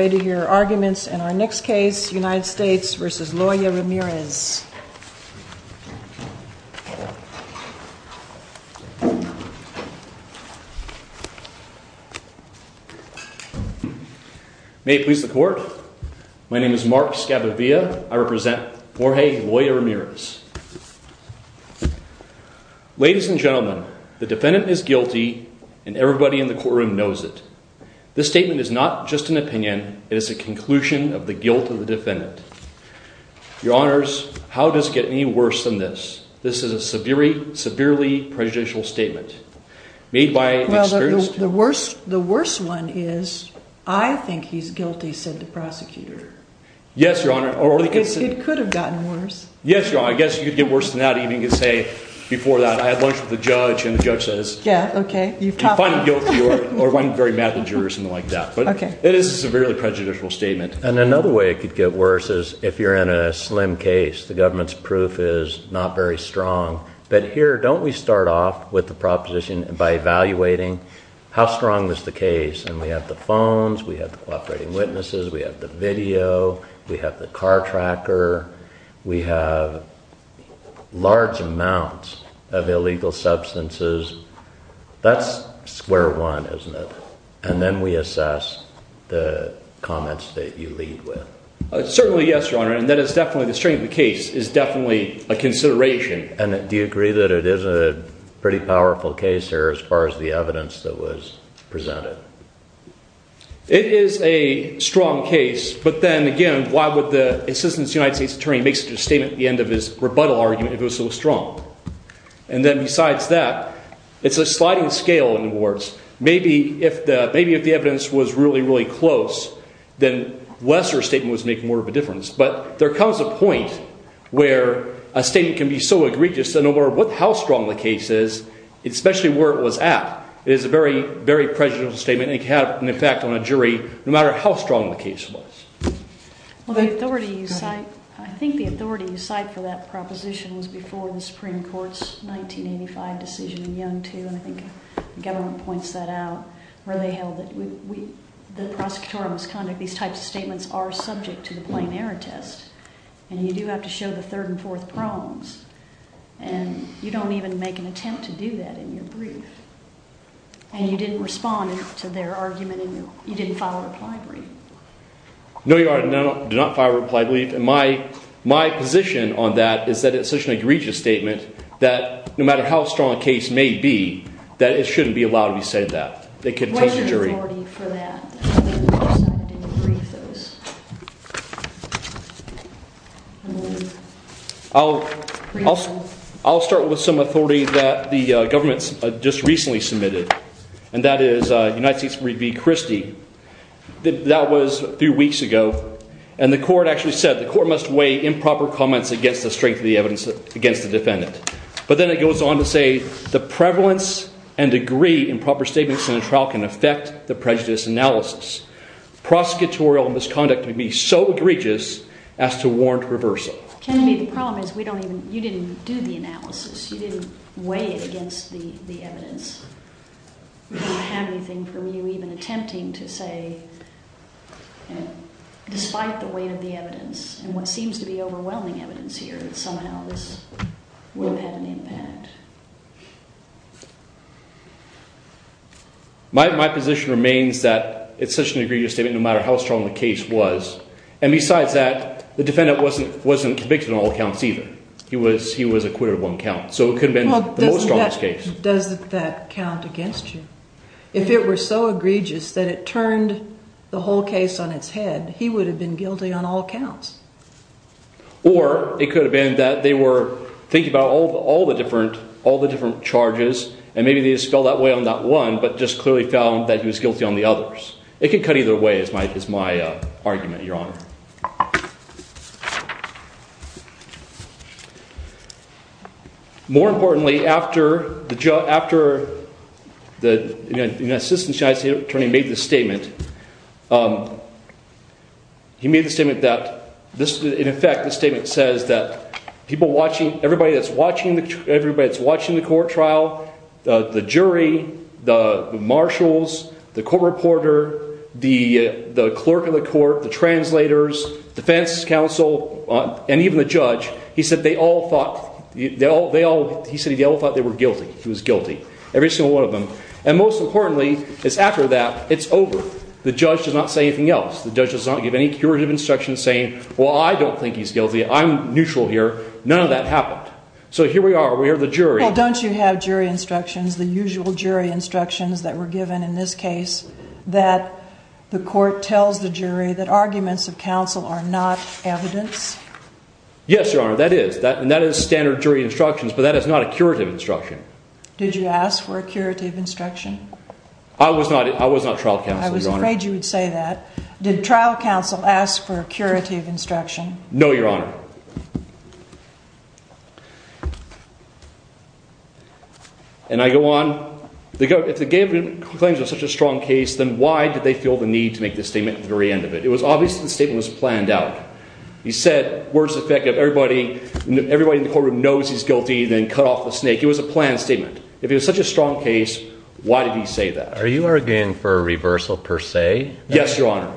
arguments in our next case United States v. Loya-Ramirez. May it please the court. My name is Mark Scavovia. I represent Jorge Loya-Ramirez. Ladies and gentlemen, the defendant is guilty and everybody in the courtroom knows it. This statement is not just an opinion. It is a conclusion of the guilt of the defendant. Your honors, how does it get any worse than this? This is a severely prejudicial statement. The worst one is I think he's guilty said the prosecutor. Yes, your honor. It could have gotten worse. Yes, your honor. I guess you'd get worse than that even if you say before that I had lunch with the judge and the judge says yeah, okay. You find guilty or one very mad at you or something like that. But it is a severely prejudicial statement. And another way it could get worse is if you're in a slim case, the government's proof is not very strong. But here, don't we start off with the proposition by evaluating how strong is the case? And we have the phones, we have the cooperating witnesses, we have the video, we have the car tracker, we have large amounts of illegal substances. That's square one, isn't it? And then we assess the comments that you lead with. Certainly, yes, your honor. And that is definitely the strength of the case is definitely a consideration. And do you agree that it is a pretty powerful case here as far as the evidence that was presented? It is a strong case, but then again, why would the Assistant United States Attorney make such a statement at the end of his rebuttal argument if it was so strong? And then besides that, it's a sliding scale in the wards. Maybe if the evidence was really, really close, then a lesser statement would make more of a difference. But there comes a point where a statement can be so egregious that no matter how strong the case is, especially where it was at, it is a very, very prejudicial statement. It can have an effect on a jury no matter how strong the case is. I think the authority you cite for that proposition was before the Supreme Court's 1985 decision in Yonge too, and I think the government points that out, where they held that the prosecutorial misconduct, these types of statements, are subject to the plain error test. And you do have to show the third and fourth prongs. And you don't even make an attempt to do that in your brief. And you didn't respond to their argument, and you didn't file a reply brief. No, your My position on that is that it's such an egregious statement that no matter how strong a case may be, that it shouldn't be allowed to be said that. It could take the jury. Where is the authority for that? I'll start with some authority that the government just recently submitted, and that is United States v. Christie. That was a few weeks ago. And the court actually said, the court must weigh improper comments against the strength of the evidence against the defendant. But then it goes on to say, the prevalence and degree in proper statements in a trial can affect the prejudice analysis. Prosecutorial misconduct would be so egregious as to warrant reversal. Kennedy, the problem is we don't even, you didn't do the analysis. You didn't weigh it against the evidence. We don't have anything from you even attempting to say, despite the weight of the evidence, and what seems to be overwhelming evidence here, that somehow this would have had an impact. My position remains that it's such an egregious statement no matter how strong the case was. And besides that, the defendant wasn't convicted on all counts either. He was acquitted on one count. So it could have been the most egregious that count against you. If it were so egregious that it turned the whole case on its head, he would have been guilty on all counts. Or it could have been that they were thinking about all the different charges, and maybe they just fell that way on that one, but just clearly found that he was guilty on the others. It could cut either way, is my argument, Your Honor. More importantly, after the assistant United States Attorney made this statement, he made the statement that this, in effect, the statement says that people watching, everybody that's watching, everybody that's watching the court trial, the jury, the marshals, the court reporter, the clerk of the jurors, defense counsel, and even the judge, he said they all thought, he said they all thought they were guilty. He was guilty. Every single one of them. And most importantly, it's after that, it's over. The judge does not say anything else. The judge does not give any curative instructions saying, well, I don't think he's guilty. I'm neutral here. None of that happened. So here we are. We have the jury. Well, don't you have jury instructions, the usual jury instructions that were evidence? Yes, Your Honor, that is. And that is standard jury instructions, but that is not a curative instruction. Did you ask for a curative instruction? I was not, I was not trial counsel, Your Honor. I was afraid you would say that. Did trial counsel ask for a curative instruction? No, Your Honor. And I go on. If they gave him claims of such a strong case, then why did they feel the need to make this statement at the very end of it? It was obvious that the case was planned out. He said, worst effect, if everybody, everybody in the courtroom knows he's guilty, then cut off the snake. It was a planned statement. If it was such a strong case, why did he say that? Are you arguing for a reversal per se? Yes, Your Honor.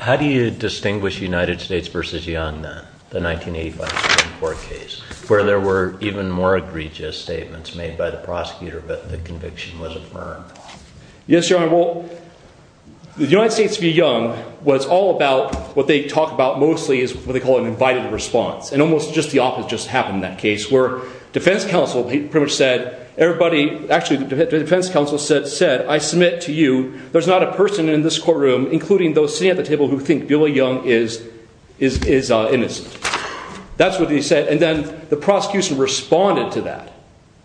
How do you distinguish United States versus Young then, the 1985 Supreme Court case, where there were even more egregious statements made by the prosecutor, but the was all about what they talk about mostly is what they call an invited response. And almost just the opposite just happened in that case, where defense counsel pretty much said, everybody, actually the defense counsel said, I submit to you, there's not a person in this courtroom, including those sitting at the table who think Billy Young is innocent. That's what he said. And then the prosecution responded to that.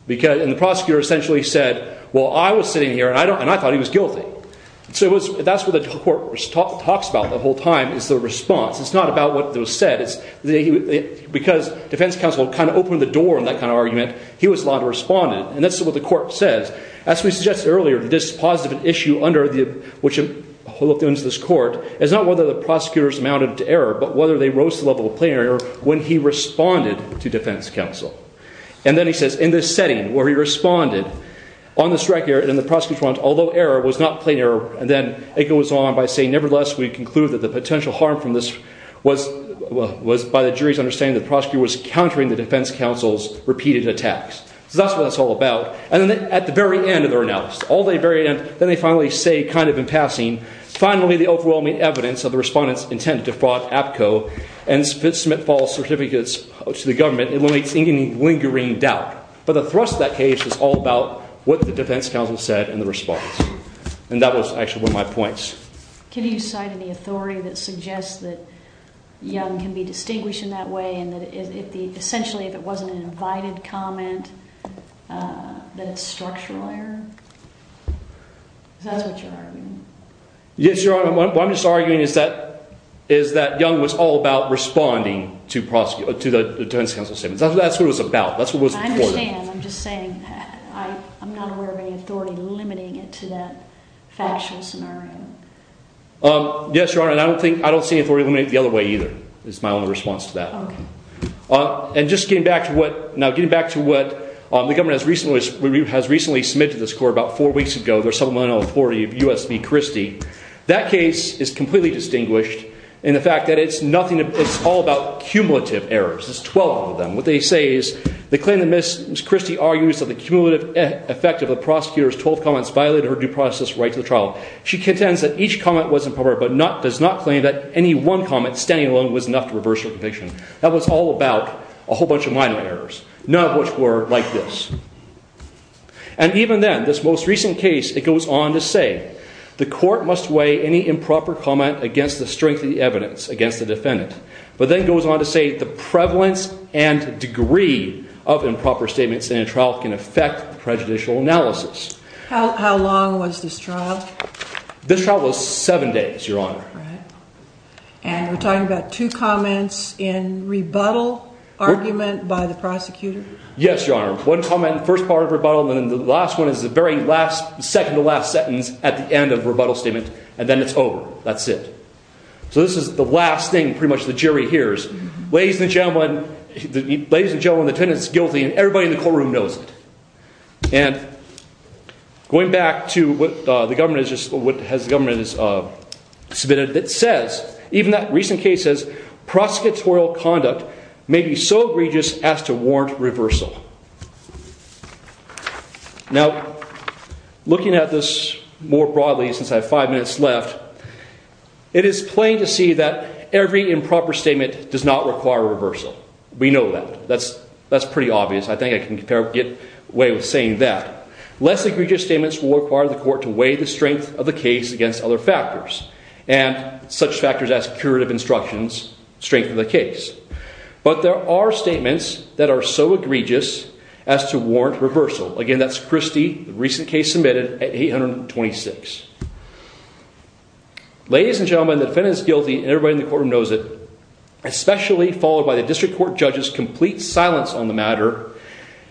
And the prosecutor essentially said, well, I was sitting here and I thought he was guilty. So that's what the court talks about the whole time is the response. It's not about what was said. Because defense counsel kind of opened the door in that kind of argument, he was allowed to respond. And that's what the court says. As we suggested earlier, this positive issue under the, which holds this court, is not whether the prosecutors amounted to error, but whether they rose to the level of plenary error when he responded to defense counsel. And then he says, in this setting where he responded on the strike area and the strike area was not plenary error. And then it goes on by saying, nevertheless, we conclude that the potential harm from this was by the jury's understanding the prosecutor was countering the defense counsel's repeated attacks. So that's what it's all about. And then at the very end of their analysis, all the very end, then they finally say kind of in passing, finally, the overwhelming evidence of the respondent's intent to defraud APCO and submit false certificates to the government eliminates any lingering doubt. But the thrust of that case is all about what the defense counsel said in the response. And that was actually one of my points. Can you cite any authority that suggests that young can be distinguished in that way? And that if the essentially, if it wasn't an invited comment, that structural error, that's what you're arguing. Yes, your honor. What I'm just arguing is that is that young was all about responding to prosecute to the defense counsel statements. That's what it was about. That's what I'm saying. I'm just saying I'm not aware of any authority limiting it to that factual scenario. Yes, your honor. And I don't think I don't see an authority to eliminate the other way either. It's my own response to that. And just getting back to what now getting back to what the government has recently has recently submitted this court about four weeks ago. There's someone on authority of USB Christie. That case is completely distinguished in the fact that it's nothing. It's all about cumulative errors. There's 12 of them. What they say is they claim that Miss Christie argues that the cumulative effect of the prosecutors 12 comments violated her due process right to the trial. She contends that each comment was improper, but not does not claim that any one comment standing alone was enough to reverse your conviction. That was all about a whole bunch of minor errors. None of which were like this. And even then this most recent case, it goes on to say the court must weigh any improper comment against the strength of the evidence against the defendant, but then goes on to say the prevalence and degree of improper statements in a trial can affect prejudicial analysis. How long was this trial? This trial was seven days, your honor. And we're talking about two comments in rebuttal argument by the prosecutor. Yes, your honor. One comment, first part of rebuttal. And then the last one is the very last second to last sentence at the end of rebuttal statement. And then it's over. That's it. So this is the last thing pretty much the jury hears. Ladies and gentlemen, ladies and gentlemen, the defendant's guilty and everybody in the courtroom knows it. And going back to what the government is just what has the government is submitted that says even that recent cases, prosecutorial conduct may be so egregious as to warrant reversal. Now, looking at this more broadly since I have five minutes left, it is plain to see that every improper statement does not require a reversal. We know that that's that's pretty obvious. I think I can get away with saying that less egregious statements will require the court to weigh the strength of the case against other factors and such factors as curative instructions, strength of the case. But there are statements that are so egregious as to warrant reversal. Again, that's Christie recent case submitted at 826. Ladies and gentlemen, the defendant's guilty and everybody in the courtroom knows it, especially followed by the district court judges complete silence on the matter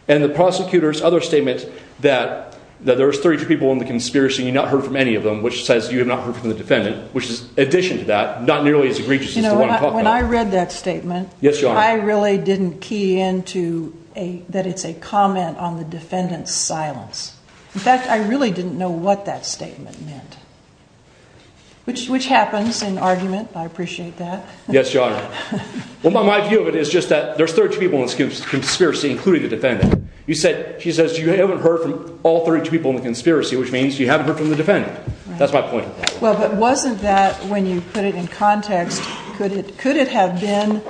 and the prosecutors other statement that there was 32 people in the conspiracy. You not heard from any of them, which says you have not heard from the defendant, which is addition to that not nearly as egregious as the one I read that statement. Yes, your honor. I really didn't key into a that it's a comment on the defendant's silence. In fact, I really didn't know what that statement meant. Which which happens in argument. I appreciate that. Yes, your honor. Well, my view of it is just that there's 32 people in this conspiracy, including the defendant. You said she says you haven't heard from all 32 people in the conspiracy, which means you haven't heard from the defendant. That's my point. Well, but wasn't that when you put it in context, could it could it have been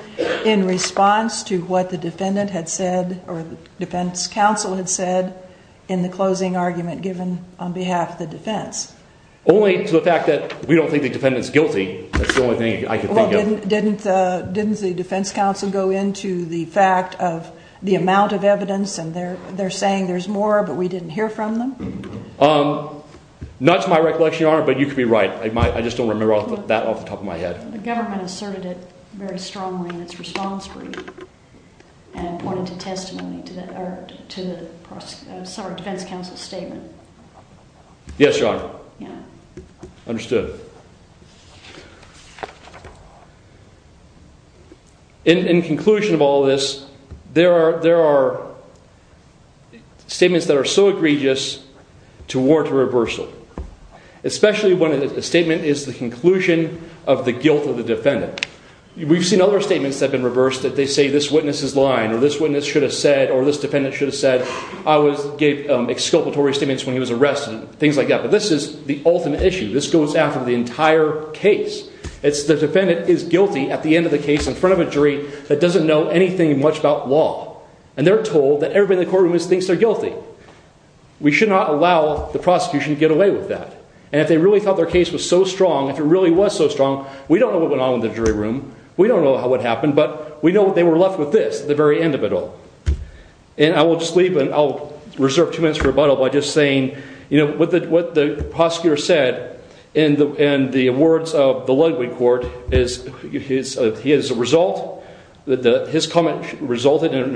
in response to what the defendant had said or the defense counsel had said in the closing argument given on behalf of the defense? Only to the fact that we don't think the defendant's guilty. That's the only thing I could think of. Didn't didn't the defense counsel go into the fact of the amount of evidence and they're they're saying there's more, but we didn't hear from them. Not to my recollection, your honor, but you could be right. I just don't remember that off the top of my head. The government asserted it very strongly in its response brief and pointed to to the defense counsel statement. Yes, your honor. In conclusion of all this, there are there are. Statements that are so egregious to war to reversal, especially when a statement is the conclusion of the guilt of the defendant. We've seen other statements have been reversed that they say this witness is lying or this witness should have said or this defendant should have said I was gave exculpatory statements when he was arrested and things like that. But this is the ultimate issue. This goes after the entire case. It's the defendant is guilty at the end of the case in front of a jury that doesn't know anything much about law and they're told that everybody in the courtroom thinks they're guilty. We should not allow the prosecution to get away with that. And if they really thought their case was so strong, if it really was so strong, we don't know what went on with the jury room. We don't know how it happened, but we know they were left with this at the very end of it all. And I will just leave and I'll reserve two minutes for rebuttal by just saying, you know, what the what the prosecutor said in the and the words of the Ludwig court is his. He is a result that his comment resulted in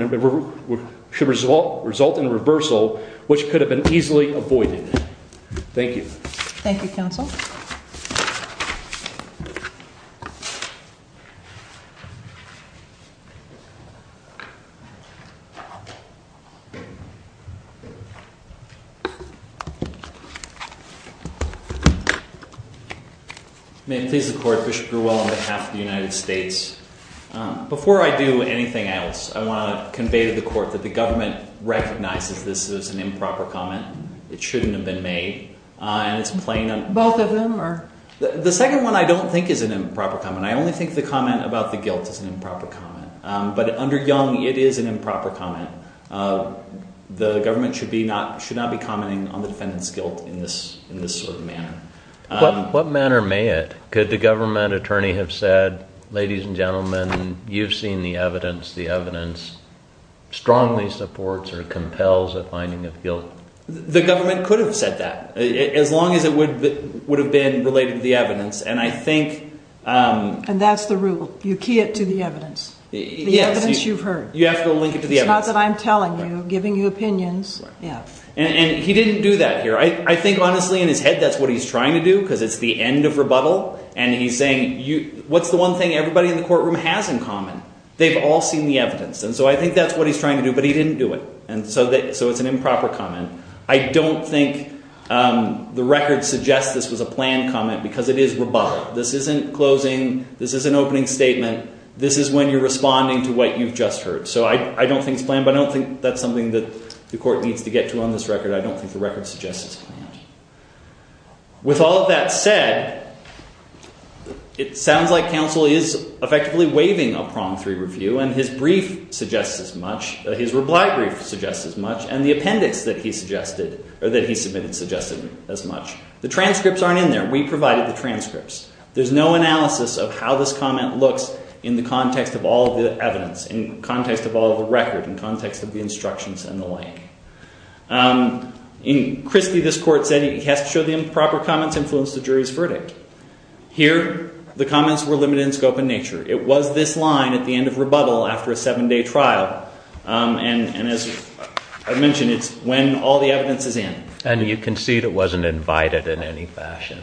should result result in reversal, which could have been easily avoided. Thank you. Thank you, counsel. May it please the court, Bishop Grewell on behalf of the United States. Before I do anything else, I want to convey to the court that the government recognizes this is an improper comment. It shouldn't have been made. And it's playing on both of them. The second one I don't think is an improper comment. I only think the comment about the guilt is an improper comment. But under young, it is an improper comment. The government should be not should not be commenting on the defendant's guilt in this in this sort of manner. What manner may it could the government attorney have said, ladies and gentlemen, you've seen the evidence. The evidence strongly supports or compels a finding of guilt. The government could have said that as long as it would would have been related to the evidence. And I think and that's the rule. You key it to the evidence. Yes, you've heard. You have to link it to the other that I'm telling you giving you opinions. Yeah, and he didn't do that here. I think honestly in his head. That's what he's trying to do because it's the end of rebuttal. And he's saying you what's the one thing everybody in the courtroom has in common. They've all seen the evidence. And so I think that's what he's trying to do, but he didn't do it. And so that so it's an improper comment. I don't think the record suggests. This was a planned comment because it is rebuttal. This isn't closing. This is an opening statement. This is when you're responding to what you've just heard. So I don't think it's planned, but I don't think that's something that the court needs to get to on this record. I don't think the record suggests. With all of that said, it sounds like counsel is effectively waving a prom three review and his brief suggests as much his reply brief suggests as much and the appendix that he suggested or that he submitted suggested as much the transcripts. There's no analysis of how this comment looks in the context of all of the evidence in context of all of the record in context of the instructions and the way in Christie. This court said he has to show the improper comments influence the jury's verdict here. The comments were limited in scope and nature. It was this line at the end of rebuttal after a seven-day trial. And as I mentioned, it's when all the evidence is in and you can see that wasn't invited in any fashion.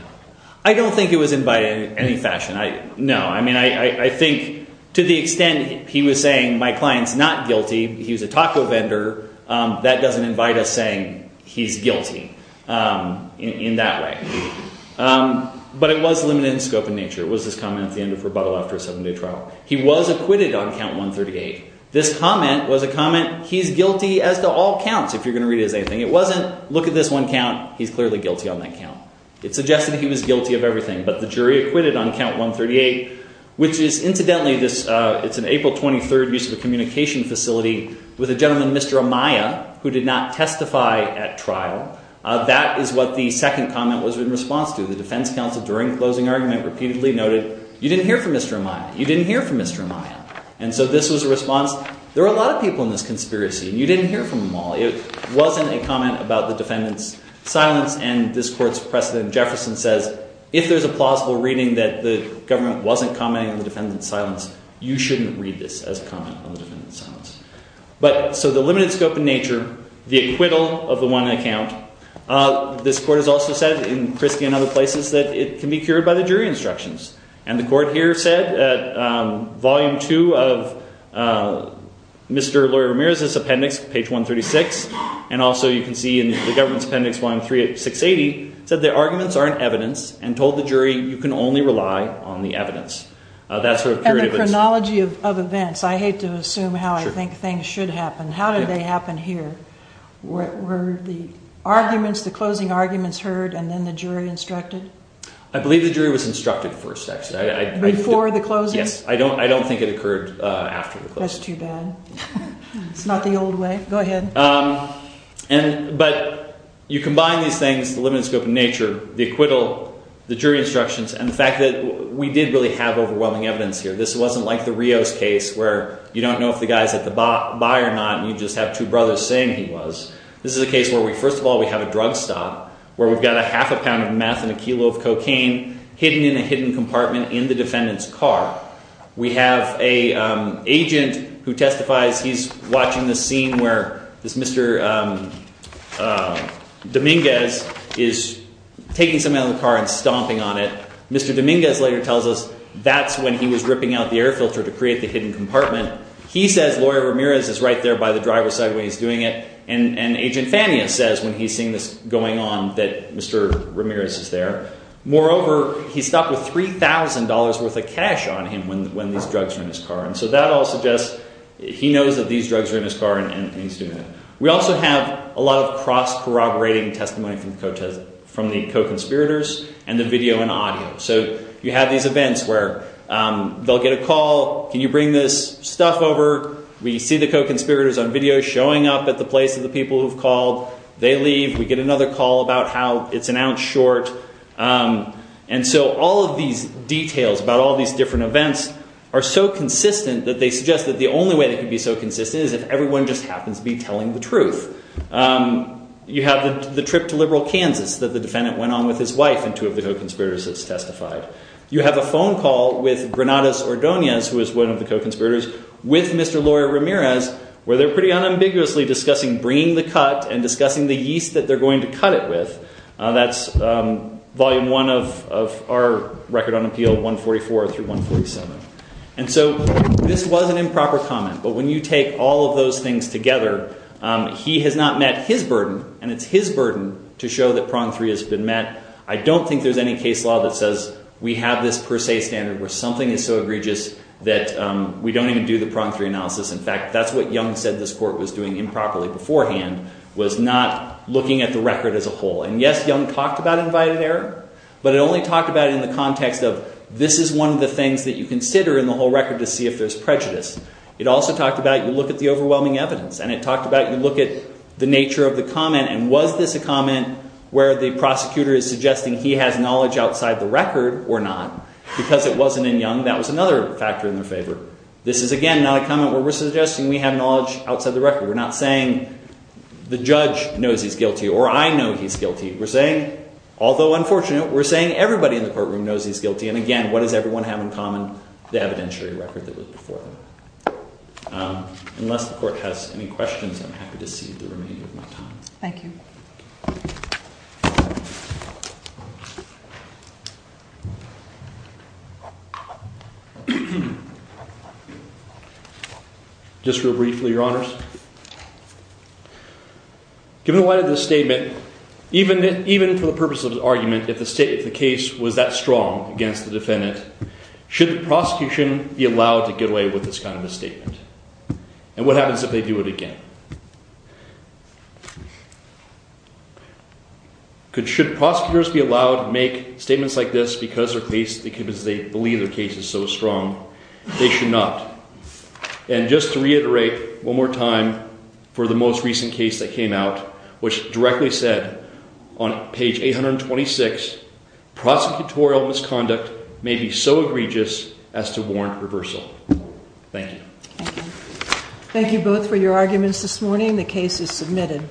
I don't think it was invited in any fashion. I know. I mean, I think to the extent he was saying my clients not guilty. He was a taco vendor that doesn't invite us saying he's guilty in that way, but it was limited in scope in nature was this comment at the end of rebuttal after a seven-day trial. He was acquitted on count 138. This comment was a comment. He's guilty as to all counts. If you're going to read as anything, it wasn't look at this one count. He's clearly guilty on that count. It suggested he was guilty of everything, but the jury acquitted on count 138, which is incidentally this. It's an April 23rd use of a communication facility with a gentleman. Mr. Amaya who did not testify at trial. That is what the second comment was in response to the defense counsel during closing argument repeatedly noted. You didn't hear from Mr. Amaya. You didn't hear from Mr. Amaya. And so this was a response. There are a lot of people in this conspiracy and you didn't hear from them all. It wasn't a comment about the defendants silence and this court's precedent Jefferson says, if there's a plausible reading that the government wasn't commenting on the defendant's silence, you shouldn't read this as a comment on the defendant's silence. But so the limited scope in nature, the acquittal of the one account, this court has also said in Christie and other places that it can be cured by the jury instructions. And the court here said at volume two of Mr. Laurie Ramirez's appendix page 136, and also you can see in the government's appendix one three at 680 said the arguments aren't evidence and told the jury you can only rely on the evidence. That's sort of curative. And the chronology of events. I hate to assume how I think things should happen. How did they happen here? Were the arguments, the closing arguments heard and then the jury instructed? I believe the jury was instructed first actually. Before the closing? Yes. I don't think it occurred after the closing. That's too bad. It's not the old way. Go ahead. And but you combine these things, the limited scope in nature, the acquittal, the jury instructions, and the fact that we did really have overwhelming evidence here. This wasn't like the Rios case where you don't know if the guy's at the bar or not and you just have two brothers saying he was. This is a case where we first of all we have a drug stop, where we've got a half a pound of meth and a kilo of cocaine hidden in a hidden compartment in the defendant's car. We have an agent who testifies. He's watching the scene where this Mr. Dominguez is taking some out of the car and stomping on it. Mr. Dominguez later tells us that's when he was ripping out the air filter to create the hidden compartment. He says lawyer Ramirez is right there by the driver's side when he's doing it. And agent Fania says when he's seeing this going on that Mr. Ramirez is there. Moreover, he's stopped with $3,000 worth of cash on him when these drugs are in his car. And so that all suggests he knows that these drugs are in his car and he's doing it. We also have a lot of cross corroborating testimony from the co-conspirators and the video and audio. So you have these events where they'll get a call. Can you bring this stuff over? We see the co-conspirators on video showing up at the place of the people who've called. They leave. We get another call about how it's an ounce short. And so all of these details about all these different events are so consistent that they suggest that the only way that could be so consistent is if everyone just happens to be telling the truth. You have the trip to liberal Kansas that the defendant went on with his wife and two of the co-conspirators has testified. You have a phone call with Granados Ordonez who is one of the co-conspirators with Mr. Lawyer Ramirez where they're pretty unambiguously discussing bringing the cut and discussing the yeast that they're going to cut it with. That's volume one of our record on appeal 144 through 147. And so this was an improper comment, but when you take all of those things together, he has not met his burden and it's his burden to show that prong three has been met. I don't think there's any case law that says we have this per se standard where something is so egregious that we don't even do the prong three analysis. In fact, that's what Young said this court was doing improperly beforehand was not looking at the record as a whole. And yes, Young talked about invited error, but it only talked about in the context of this is one of the things that you consider in the whole record to see if there's prejudice. It also talked about you look at the overwhelming evidence and it talked about you look at the nature of the comment and was this a comment where the prosecutor is suggesting he has knowledge outside the record or not because it wasn't in Young. That was another factor in their favor. This is again not a comment where we're suggesting we have knowledge outside the record. We're not saying the judge knows he's guilty or I know he's guilty. We're saying, although unfortunate, we're saying everybody in the courtroom knows he's guilty. And again, what does everyone have in common? The evidentiary record that was before them. Unless the court has any questions, I'm happy to see the remainder of my time. Thank you. Just real briefly, Your Honors. Given the light of this argument, if the state of the case was that strong against the defendant, should the prosecution be allowed to get away with this kind of a statement? And what happens if they do it again? Should prosecutors be allowed to make statements like this because their case, because they believe their case is so strong, they should not. And just to reiterate one more time for the most recent case that came out, which directly said on page 826, prosecutorial misconduct may be so egregious as to warrant reversal. Thank you. Thank you both for your arguments this morning. The case is submitted.